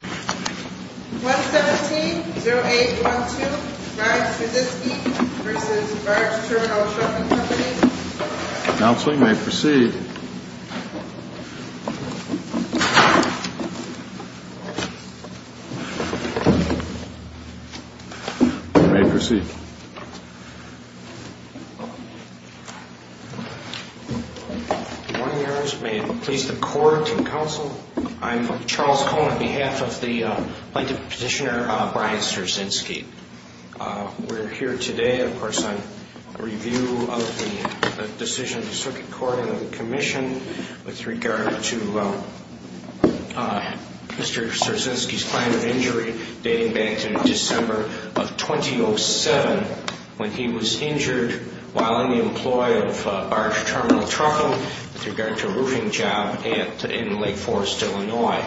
1170812 Barge Verzinski v. Barge Terminal Trucking Company Counseling may proceed. You may proceed. Good morning, may it please the court and counsel, I'm Charles Cohen on behalf of the plaintiff's petitioner Brian Zerzinski. We're here today of course on review of the decision of the circuit court and of the commission with regard to Mr. Zerzinski's claim of injury dating back to December of 2007 when he was injured while on the employ of Barge Terminal Trucking with regard to a roofing job in Lake Forest, Illinois.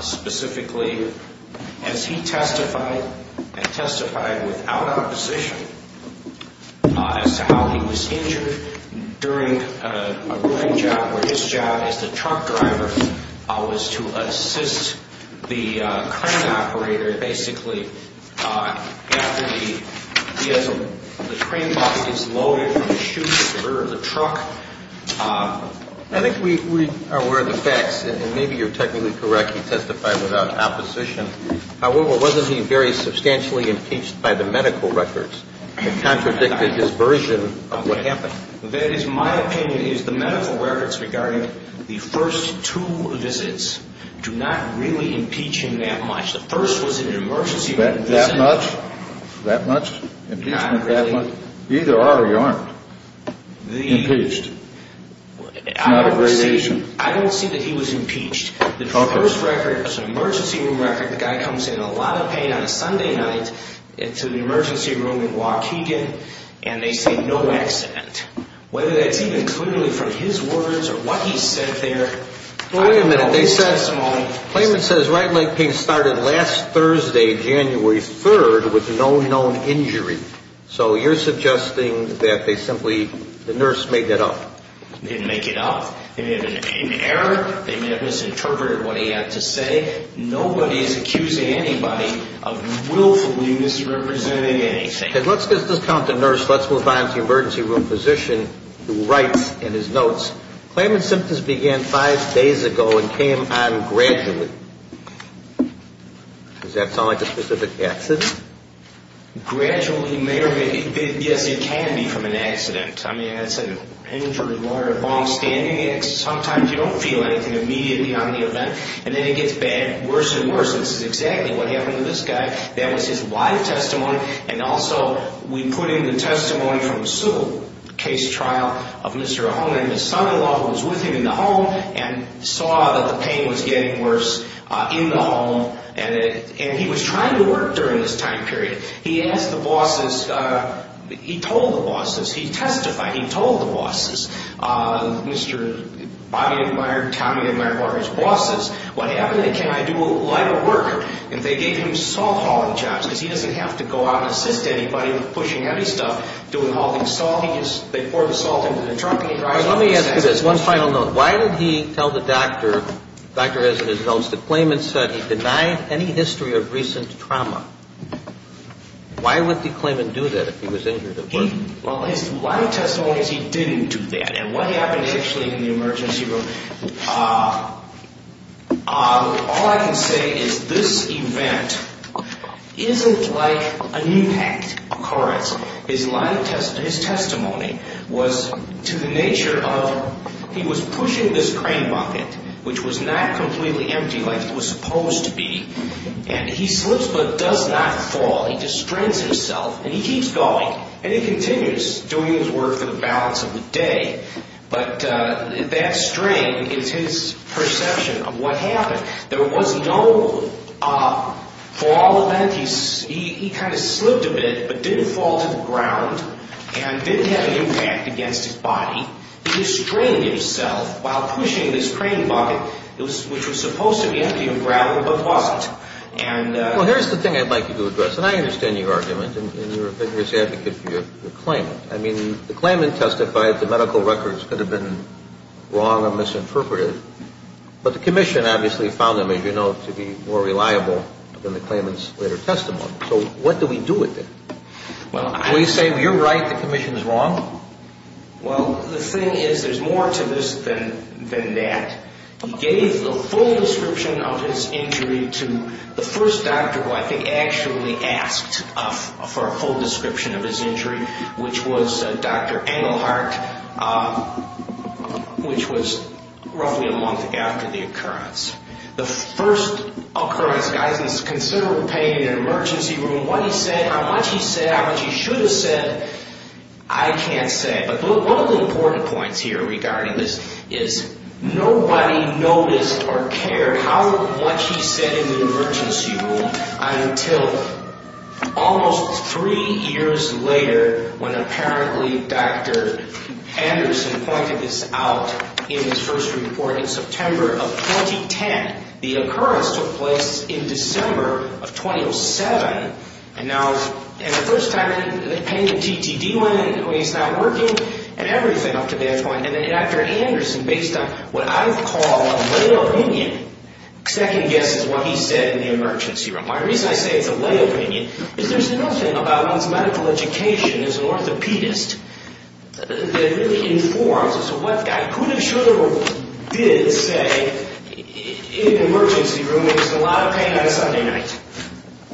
Specifically, as he testified and testified without opposition as to how he was injured during a roofing job where his job as the truck driver was to assist the crane operator basically after the crane box gets loaded from the chute at the rear of the truck. I think we are aware of the facts and maybe you're technically correct, he testified without opposition. However, wasn't he very substantially impeached by the medical records that contradicted his version of what happened? That is my opinion is the medical records regarding the first two visits do not really impeach him that much. The first was an emergency room visit. That much? That much? Not really. Either are or you aren't impeached? I don't see that he was impeached. The first record is an emergency room record. The guy comes in a lot of pain on a Sunday night into the emergency room in Waukegan and they say no accident. Whether that's even clearly from his words or what he said there, I don't know. Wait a minute. They said, the claimant says right leg pain started last Thursday, January 3rd with no known injury. So you're suggesting that they simply, the nurse made that up? They didn't make it up. They may have been in error. They may have misinterpreted what he had to say. Nobody is accusing anybody of willfully misrepresenting anything. Let's discount the nurse. Let's move on to the emergency room physician who writes in his notes, claimant's symptoms began five days ago and came on gradually. Does that sound like a specific accident? Gradually may or may not. Yes, it can become an accident. I mean, that's an injury where a bomb's standing, and sometimes you don't feel anything immediately on the event, and then it gets bad, worse and worse. This is exactly what happened to this guy. That was his live testimony, and also we put in the testimony from a civil case trial of Mr. Ahonen. His son-in-law was with him in the home and saw that the pain was getting worse in the home, and he was trying to work during this time period. He asked the bosses. He told the bosses. He testified. He told the bosses. Mr. Bobby Meier, Tommy Meier were his bosses. What happened? Can I do a lot of work? And they gave him salt hauling jobs because he doesn't have to go out and assist anybody with pushing heavy stuff, doing hauling salt. They pour the salt into the truck. Let me ask you this. One final note. Why did he tell the doctor, the doctor has it in his notes, that Klayman said he denied any history of recent trauma? Why would Klayman do that if he was injured at work? Well, his live testimony is he didn't do that, and what happened actually in the emergency room, all I can say is this event isn't like an impact occurrence. His live testimony, his testimony was to the nature of he was pushing this crane bucket, which was not completely empty like it was supposed to be, and he slips but does not fall. He distrains himself, and he keeps going, and he continues doing his work for the balance of the day, but that strain is his perception of what happened. There was no fall event. He kind of slipped a bit but didn't fall to the ground and didn't have an impact against his body. He was straining himself while pushing this crane bucket, which was supposed to be empty of gravel but wasn't. Well, here's the thing I'd like you to address, and I understand your argument, and you're a vigorous advocate for Klayman. I mean, Klayman testified the medical records could have been wrong or misinterpreted, but the commission obviously found them, as you know, to be more reliable than the Klayman's later testimony. So what do we do with it? Can we say you're right, the commission is wrong? Well, the thing is there's more to this than that. He gave the full description of his injury to the first doctor who I think actually asked for a full description of his injury, which was Dr. Engelhardt, which was roughly a month after the occurrence. The first occurrence, guys, is considerable pain in an emergency room. What he said, how much he said, how much he should have said, I can't say. But one of the important points here regarding this is nobody noticed or cared how much he said in the emergency room until almost three years later when apparently Dr. Anderson pointed this out in his first report in September of 2010. The occurrence took place in December of 2007. And the first time, the pain in the TTD went away, it's not working, and everything up to that point. And Dr. Anderson, based on what I call a lay opinion, second guesses what he said in the emergency room. My reason I say it's a lay opinion is there's nothing about one's medical education as an orthopedist that really informs us of what that could have, should have, or did say in an emergency room. It was a lot of pain on a Sunday night.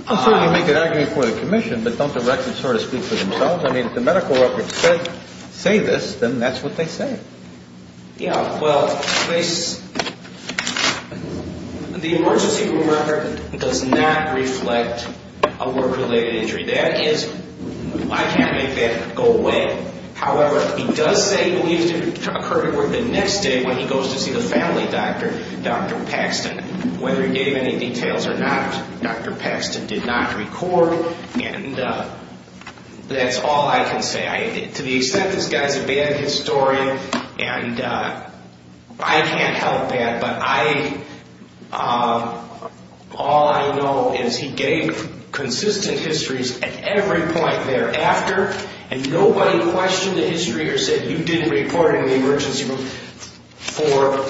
I'm sure you make an argument for the commission, but don't the records sort of speak for themselves? I mean, if the medical records say this, then that's what they say. Yeah, well, the emergency room record does not reflect a work-related injury. That is, I can't make that go away. However, he does say he believes it occurred the next day when he goes to see the family doctor, Dr. Paxton. And whether he gave any details or not, Dr. Paxton did not record. And that's all I can say. To the extent this guy's a bad historian, and I can't help that, but all I know is he gave consistent histories at every point thereafter. And nobody questioned the history or said you didn't report in the emergency room for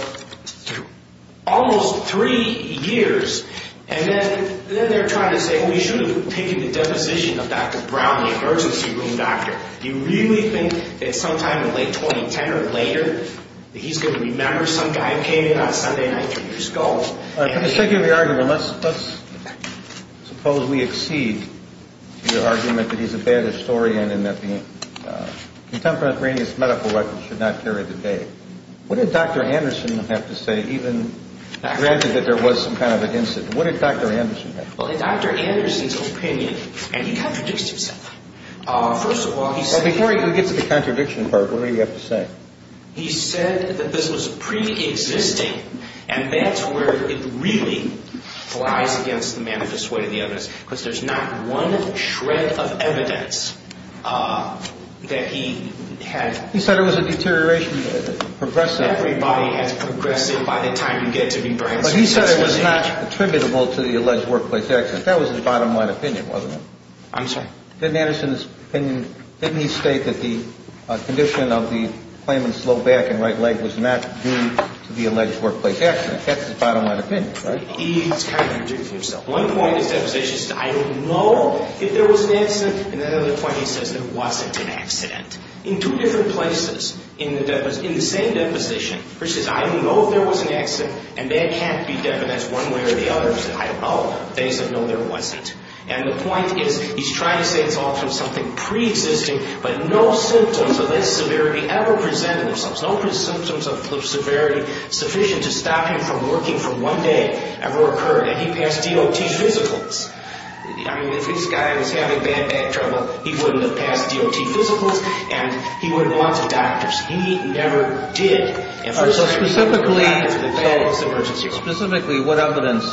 almost three years. And then they're trying to say, well, you should have taken the deposition of Dr. Brown, the emergency room doctor. Do you really think that sometime in late 2010 or later that he's going to remember some guy who came in on a Sunday night? Can you just go? Well, for the sake of the argument, let's suppose we exceed the argument that he's a bad historian and that the contemporaneous medical records should not carry the day. What did Dr. Anderson have to say, even granted that there was some kind of an incident? What did Dr. Anderson have to say? Well, in Dr. Anderson's opinion, and he contradicted himself, first of all, he said- Well, before we get to the contradiction part, what did he have to say? He said that this was preexisting, and that's where it really flies against the manifest way of the evidence, because there's not one shred of evidence that he had- He said it was a deterioration of the evidence. Everybody has progressed it by the time you get to the- But he said it was not attributable to the alleged workplace accident. That was his bottom line opinion, wasn't it? I'm sorry? In Dr. Anderson's opinion, didn't he state that the condition of the claimant's low back and right leg was not due to the alleged workplace accident? That's his bottom line opinion, right? He's contradicted himself. One point of his deposition is to say, I don't know if there was an accident, and then at another point he says there wasn't an accident. In two different places in the same deposition, he says, I don't know if there was an accident, and that can't be definite as one way or the other. He said, I don't know. They said, no, there wasn't. And the point is, he's trying to say it's all from something preexisting, but no symptoms of this severity ever presented themselves. No symptoms of severity sufficient to stop him from working for one day ever occurred, and he passed DOT physicals. I mean, if this guy was having bad back trouble, he wouldn't have passed DOT physicals, and he wouldn't have gone to doctors. He never did. Specifically, what evidence,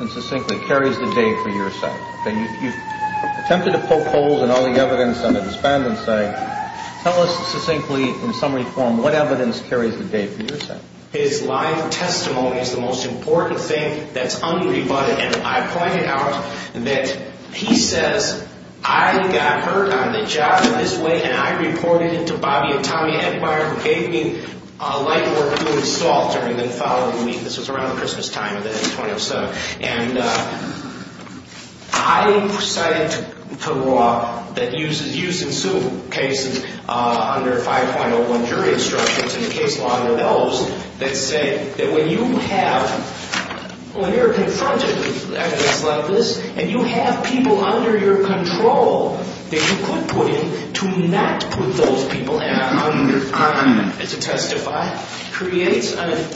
and succinctly, carries the day for your side? You've attempted to poke holes in all the evidence on the defendant's side. Tell us succinctly, in summary form, what evidence carries the day for your side? His live testimony is the most important thing that's unrebutted, and I point out that he says, I got hurt on the job in this way, and I reported it to Bobby and Tommy Edmeyer, who gave me light work to install during the following week. This was around the Christmas time of the end of 2007. And I cited the law that uses use-and-sue cases under 5.01 jury instructions and the case law under those that say that when you have, when you're confronted with evidence like this, and you have people under your control that you could put in to not put those people in to testify, creates a,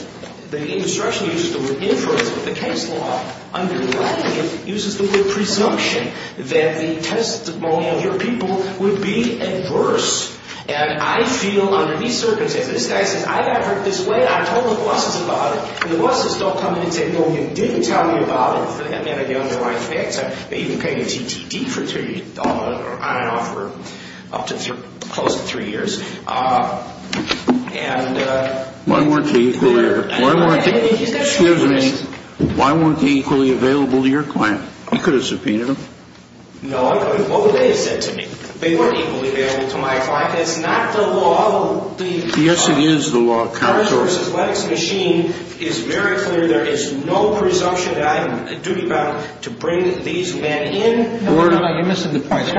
the instruction uses the word inference, but the case law underlying it uses the word presumption that the testimony of your people would be adverse. And I feel under these circumstances, this guy says, I got hurt this way, I told the bosses about it, and the bosses don't come in and say, even though he didn't tell me about it, he had a young wife, they even paid him TTD for three, I don't know, for up to close to three years. And... Why weren't they equally available to your client? You could have subpoenaed them. No, I couldn't. What would they have said to me? They weren't equally available to my client. That's not the law. Yes, it is the law, counsel. It's very clear there is no presumption that I have a duty bound to bring these men in. You're missing the point.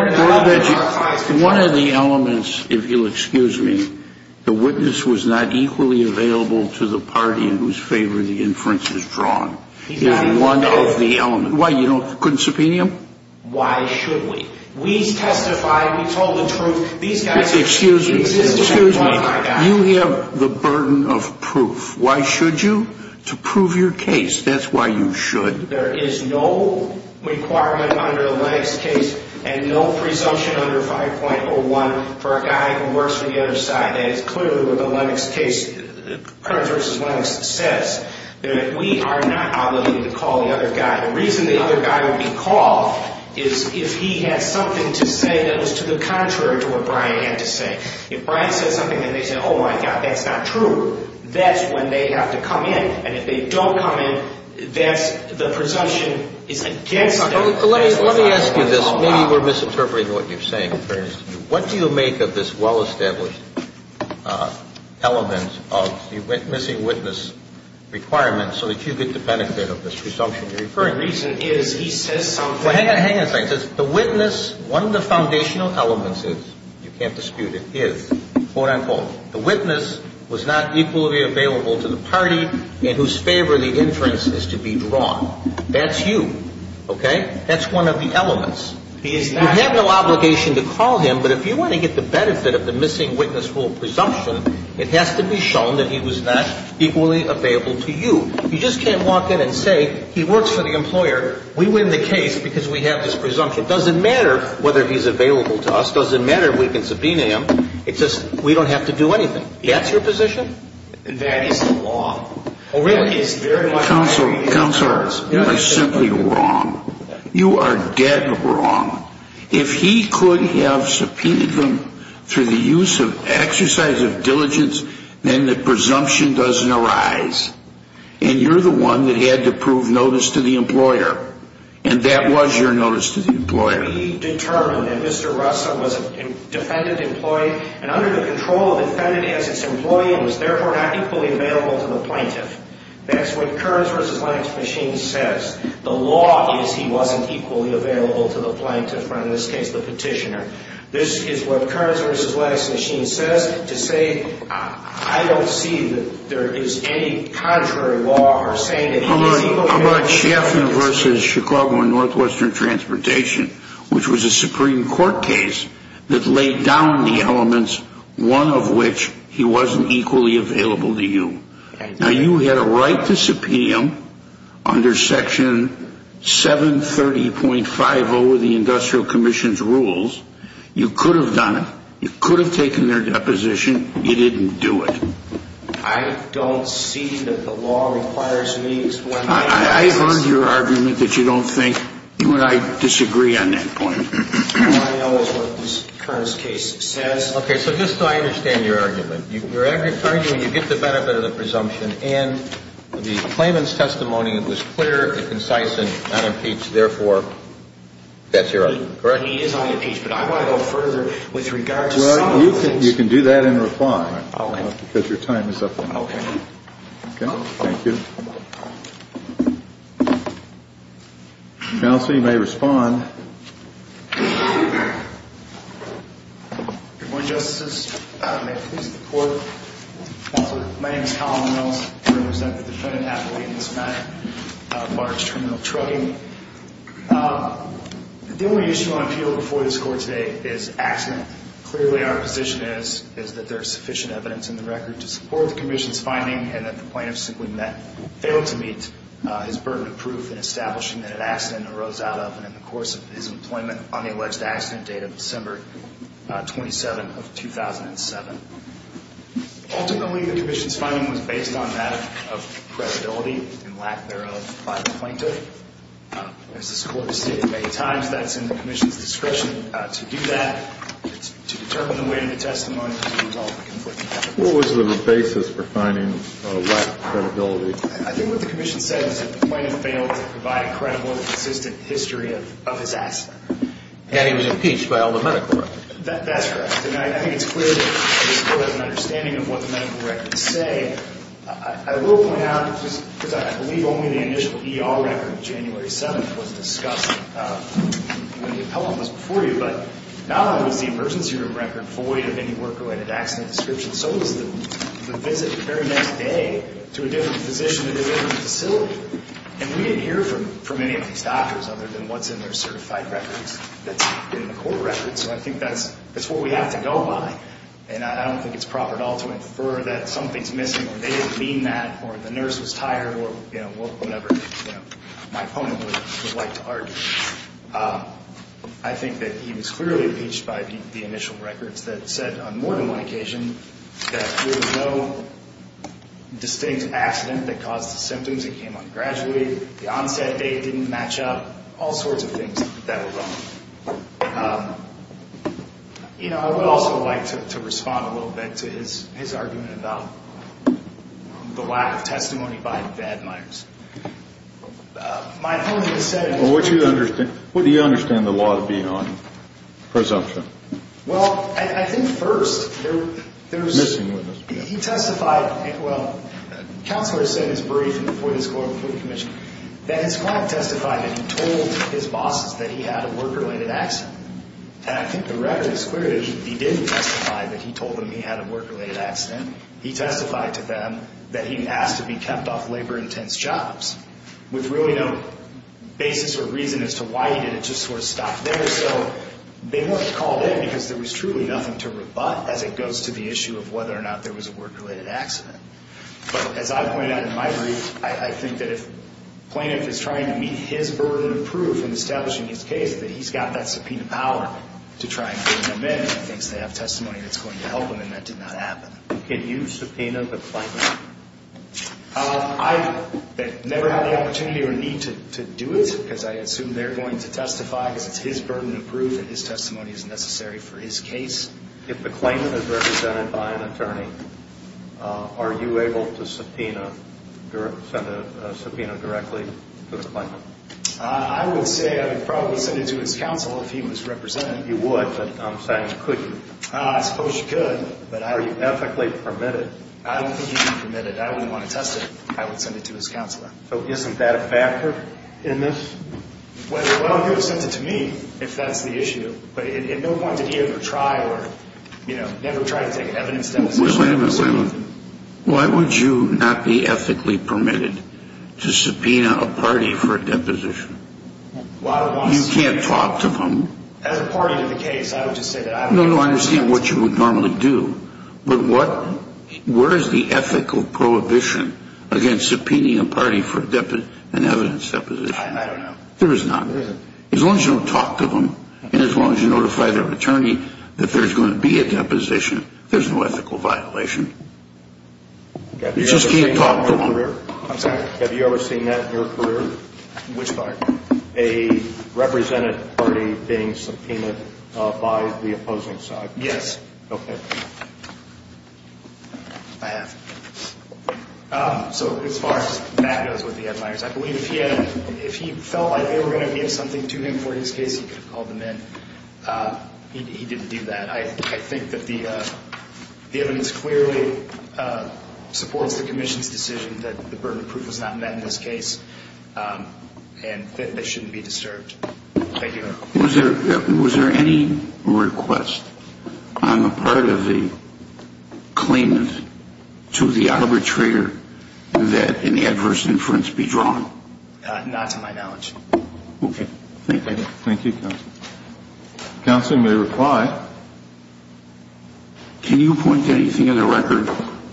One of the elements, if you'll excuse me, the witness was not equally available to the party in whose favor the inference is drawn. He's not equally available. One of the elements. Why, you couldn't subpoena him? Why should we? We testified, we told the truth. Excuse me. You have the burden of proof. Why should you? To prove your case. That's why you should. There is no requirement under the Lennox case and no presumption under 5.01 for a guy who works for the other side. That is clearly what the Lennox case, Kearns v. Lennox, says. We are not obligated to call the other guy. Now, the reason the other guy would be called is if he had something to say that was to the contrary to what Brian had to say. If Brian says something and they say, oh, my God, that's not true, that's when they have to come in. And if they don't come in, that's the presumption is against them. Let me ask you this. Maybe we're misinterpreting what you're saying. What do you make of this well-established element of the missing witness requirement so that you get the benefit of this presumption? The reason is he says something. Hang on a second. The witness, one of the foundational elements is, you can't dispute it, is, quote-unquote, the witness was not equally available to the party in whose favor the inference is to be drawn. That's you. Okay? That's one of the elements. He is not. You have no obligation to call him, but if you want to get the benefit of the missing witness rule presumption, it has to be shown that he was not equally available to you. You just can't walk in and say he works for the employer, we win the case because we have this presumption. It doesn't matter whether he's available to us. It doesn't matter if we can subpoena him. It's just we don't have to do anything. That's your position? That is the law. Oh, really? Counsel, you are simply wrong. You are dead wrong. If he could have subpoenaed them through the use of exercise of diligence, then the presumption doesn't arise. And you're the one that had to prove notice to the employer. And that was your notice to the employer. We determined that Mr. Russell was a defendant-employee and under the control of the defendant as its employee and was therefore not equally available to the plaintiff. That's what Kearns v. Lange's machine says. The law is he wasn't equally available to the plaintiff, or in this case, the petitioner. This is what Kearns v. Lange's machine says. To say I don't see that there is any contrary law or saying that he is equally available to the plaintiff. How about Chaffin v. Chicago and Northwestern Transportation, which was a Supreme Court case that laid down the elements, one of which he wasn't equally available to you. Now, you had a right to subpoena him under Section 730.50 of the Industrial Commission's rules. You could have done it. You could have taken their deposition. You didn't do it. I don't see that the law requires me to explain that. I've earned your argument that you don't think you and I disagree on that point. All I know is what this Kearns case says. Okay, so just so I understand your argument. You're arguing when you get the benefit of the presumption and the claimant's testimony, it was clear and concise and unimpeached, therefore, that's your argument, correct? He is unimpeached, but I want to go further with regard to some of the things. Well, you can do that in reply. Okay. Because your time is up. Okay. Thank you. Counsel, you may respond. Good morning, Justices. May it please the Court. Counsel, my name is Colin Mills. I represent the defendant, Athalene, in this matter as far as criminal trucking. The only issue on appeal before this Court today is accident. Clearly, our position is that there is sufficient evidence in the record to support the commission's finding and that the plaintiff simply failed to meet his burden of proof in establishing that an accident arose out of and in the course of his employment on the alleged accident date of December 27 of 2007. Ultimately, the commission's finding was based on lack of credibility and lack thereof by the plaintiff. As this Court has stated many times, that's in the commission's discretion to do that, to determine the way in the testimony to resolve the conflicting evidence. What was the basis for finding lack of credibility? I think what the commission said is that the plaintiff failed to provide a credible and consistent history of his accident. And he was impeached by all the medical records. That's correct. And I think it's clear that this Court has an understanding of what the medical records say. I will point out, because I believe only the initial ER record of January 7th was discussed when the appellant was before you, but not only was the emergency room record void of any work-related accident description, so was the visit the very next day to a different physician at a different facility. And we didn't hear from any of these doctors other than what's in their certified records that's in the court records. So I think that's what we have to go by. And I don't think it's proper at all to infer that something's missing or they didn't mean that or the nurse was tired or, you know, whatever my opponent would like to argue. I think that he was clearly impeached by the initial records that said on more than one occasion that there was no distinct accident that caused the symptoms. It came on the graduate, the onset date didn't match up, all sorts of things that were wrong. You know, I would also like to respond a little bit to his argument about the lack of testimony by the admirers. My opponent has said... Well, what do you understand the law to be on presumption? Well, I think first there's... Missing witness. He testified, well, the counselor said in his brief before this court, before the commission, that his client testified that he told his bosses that he had a work-related accident. And I think the record is clear that he didn't testify that he told them he had a work-related accident. He testified to them that he asked to be kept off labor-intense jobs with really no basis or reason as to why he did it, just sort of stopped there. So they weren't called in because there was truly nothing to rebut as it goes to the issue of whether or not there was a work-related accident. But as I pointed out in my brief, I think that if plaintiff is trying to meet his burden of proof in establishing his case, that he's got that subpoena power to try and bring them in and he thinks they have testimony that's going to help him, and that did not happen. Can you subpoena the plaintiff? I've never had the opportunity or need to do it because I assume they're going to testify because it's his burden of proof and his testimony is necessary for his case. If the claimant is represented by an attorney, are you able to subpoena directly to the plaintiff? I would say I would probably send it to his counsel if he was represented. You would, but I'm sorry, you couldn't. I suppose you could, but are you ethically permitted? I don't think he'd be permitted. I wouldn't want to test it. I would send it to his counselor. So isn't that a factor in this? Well, he would send it to me if that's the issue. But at no point did he ever try or, you know, never try to take an evidence deposition. Wait a minute. Why would you not be ethically permitted to subpoena a party for a deposition? You can't talk to them. As a party to the case, I would just say that. No, no, I understand what you would normally do, but where is the ethical prohibition against subpoenaing a party for an evidence deposition? I don't know. There is not. There isn't. As long as you don't talk to them and as long as you notify their attorney that there's going to be a deposition, there's no ethical violation. You just can't talk to them. Have you ever seen that in your career? I'm sorry? Have you ever seen that in your career? Which part? A representative party being subpoenaed by the opposing side. Yes. Okay. I have. So as far as that goes with the Ed Meyers, I believe if he felt like they were going to give something to him for his case, he could have called them in. He didn't do that. I think that the evidence clearly supports the commission's decision that the burden of proof was not met in this case. And that they shouldn't be disturbed. Thank you. Was there any request on the part of the claimant to the arbitrator that an adverse inference be drawn? Not to my knowledge. Okay. Thank you. Thank you, Counselor. Counselor may reply. Can you point to anything in the record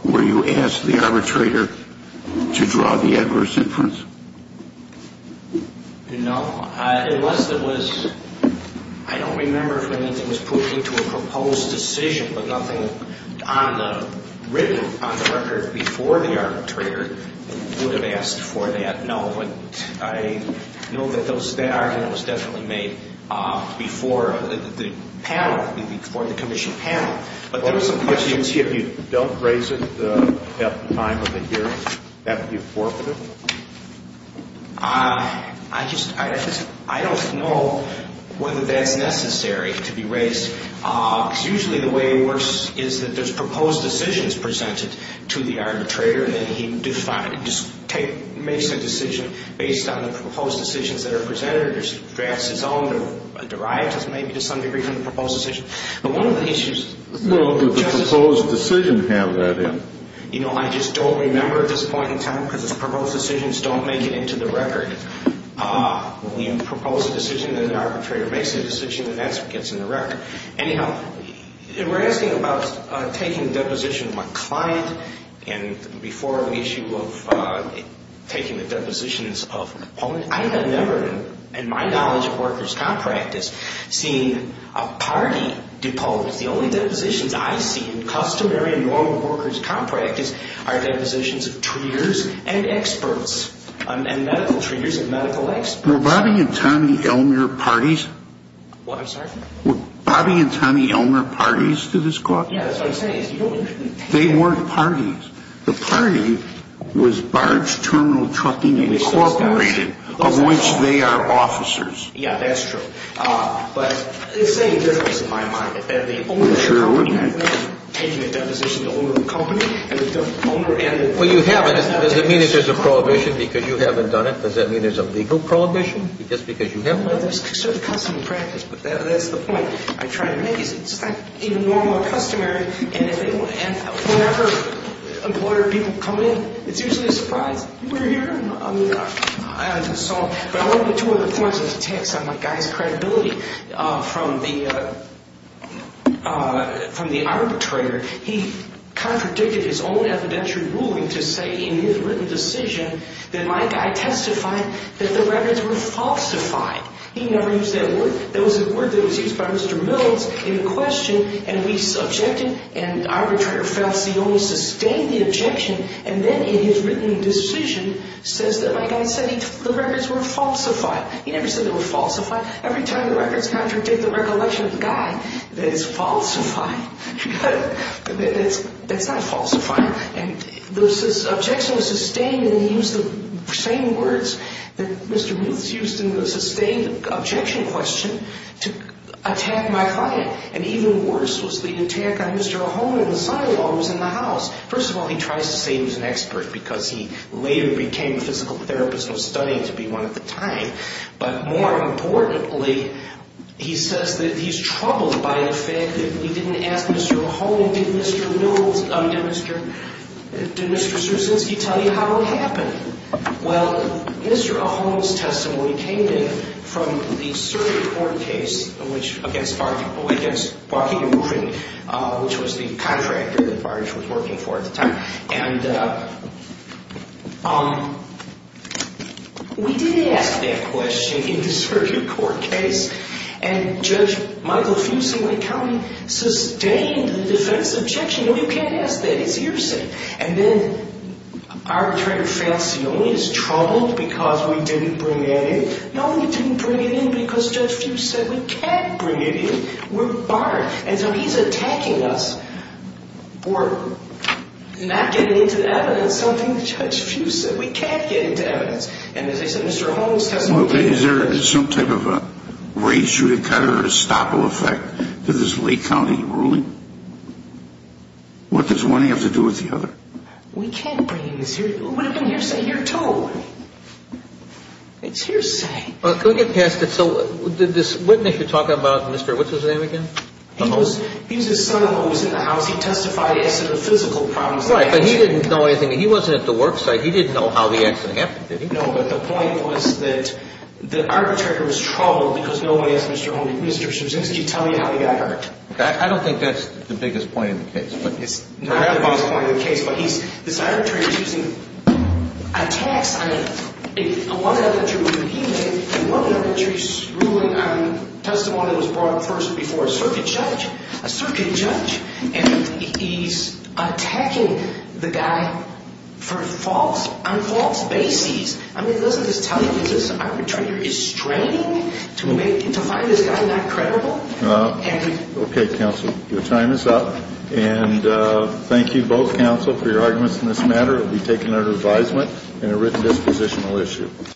where you asked the arbitrator to draw the adverse inference? No. Unless it was, I don't remember if anything was put into a proposed decision, but nothing written on the record before the arbitrator would have asked for that. No. But I know that that argument was definitely made before the panel, before the commission panel. If you don't raise it at the time of the hearing, that would be forfeited? I don't know whether that's necessary to be raised. Usually the way it works is that there's proposed decisions presented to the arbitrator and then he makes a decision based on the proposed decisions that are presented or drafts his own or derives maybe to some degree from the proposed decision. Well, does the proposed decision have that in it? You know, I just don't remember at this point in time because the proposed decisions don't make it into the record. When you propose a decision and an arbitrator makes a decision, then that's what gets in the record. Anyhow, if we're asking about taking the deposition of my client and before the issue of taking the depositions of opponents, I have never in my knowledge of workers' compractors seen a party deposed. The only depositions I see in customary and normal workers' compractors are depositions of treaters and experts and medical treaters and medical experts. Were Bobby and Tommy Elmer parties? What? I'm sorry? Were Bobby and Tommy Elmer parties to this clause? Yeah, that's what I'm saying. They weren't parties. The party was Barge Terminal Trucking Incorporated. Barge Terminal Trucking Incorporated, of which they are officers. Yeah, that's true. But it's saying a difference in my mind. Sure, wouldn't it? Taking a deposition of the owner of the company and the owner and the employer does not have to take a deposition. Well, you haven't. Does it mean that there's a prohibition because you haven't done it? Does that mean there's a legal prohibition just because you haven't done it? Well, there's a certain custom and practice, but that's the point I'm trying to make. And whenever employer people come in, it's usually a surprise. You were here? I just saw. But I want to get to one of the points of the text on my guy's credibility. From the arbitrator, he contradicted his own evidentiary ruling to say in his written decision that my guy testified that the records were falsified. He never used that word. That was a word that was used by Mr. Mills in question, and we subjected, and arbitrator felt he only sustained the objection, and then in his written decision says that my guy said the records were falsified. He never said they were falsified. Every time the records contradict, the recollection of the guy that it's falsified. That's not falsified. And the objection was sustained, and he used the same words that Mr. Mills used in the sustained objection question to attack my client. And even worse was the attack on Mr. Ahone in the silo that was in the house. First of all, he tries to say he was an expert because he later became a physical therapist and was studied to be one at the time. But more importantly, he says that he's troubled by the fact that he didn't ask Mr. Ahone, did Mr. Mills, did Mr. Straczynski tell you how it happened? Well, Mr. Ahone's testimony came in from the circuit court case against Barking and Roofing, which was the contractor that Barge was working for at the time. And we did ask that question in the circuit court case, and Judge Michael Fusingley County sustained the defense objection. No, you can't ask that. It's hearsay. And then Arbitrator Falsione is troubled because we didn't bring that in. No, we didn't bring it in because Judge Fuse said we can't bring it in. We're barred. And so he's attacking us for not getting into the evidence, something that Judge Fuse said. We can't get into evidence. And as I said, Mr. Ahone's testimony came in. Is there some type of a razor cut or estoppel effect to this Lake County ruling? What does one have to do with the other? We can't bring this here. What happened to hearsay here too? It's hearsay. Can we get past it? So did this witness here talk about Mr. what's-his-name again? He was his son-in-law who was in the house. He testified he had some physical problems. Right, but he didn't know anything. He wasn't at the work site. He didn't know how the accident happened, did he? No, but the point was that the arbitrator was troubled because nobody asked Mr. Straczynski to tell you how he got hurt. I don't think that's the biggest point of the case. It's not the biggest point of the case. But this arbitrator's using attacks on one of the other tribunals he made, one of the other tribunals ruling on testimony that was brought up first before a circuit judge, a circuit judge, and he's attacking the guy on false bases. I mean, doesn't this tell you that this arbitrator is straining to find this guy not credible? Okay, counsel, your time is up. And thank you both, counsel, for your arguments in this matter. It will be taken under advisement in a written dispositional issue.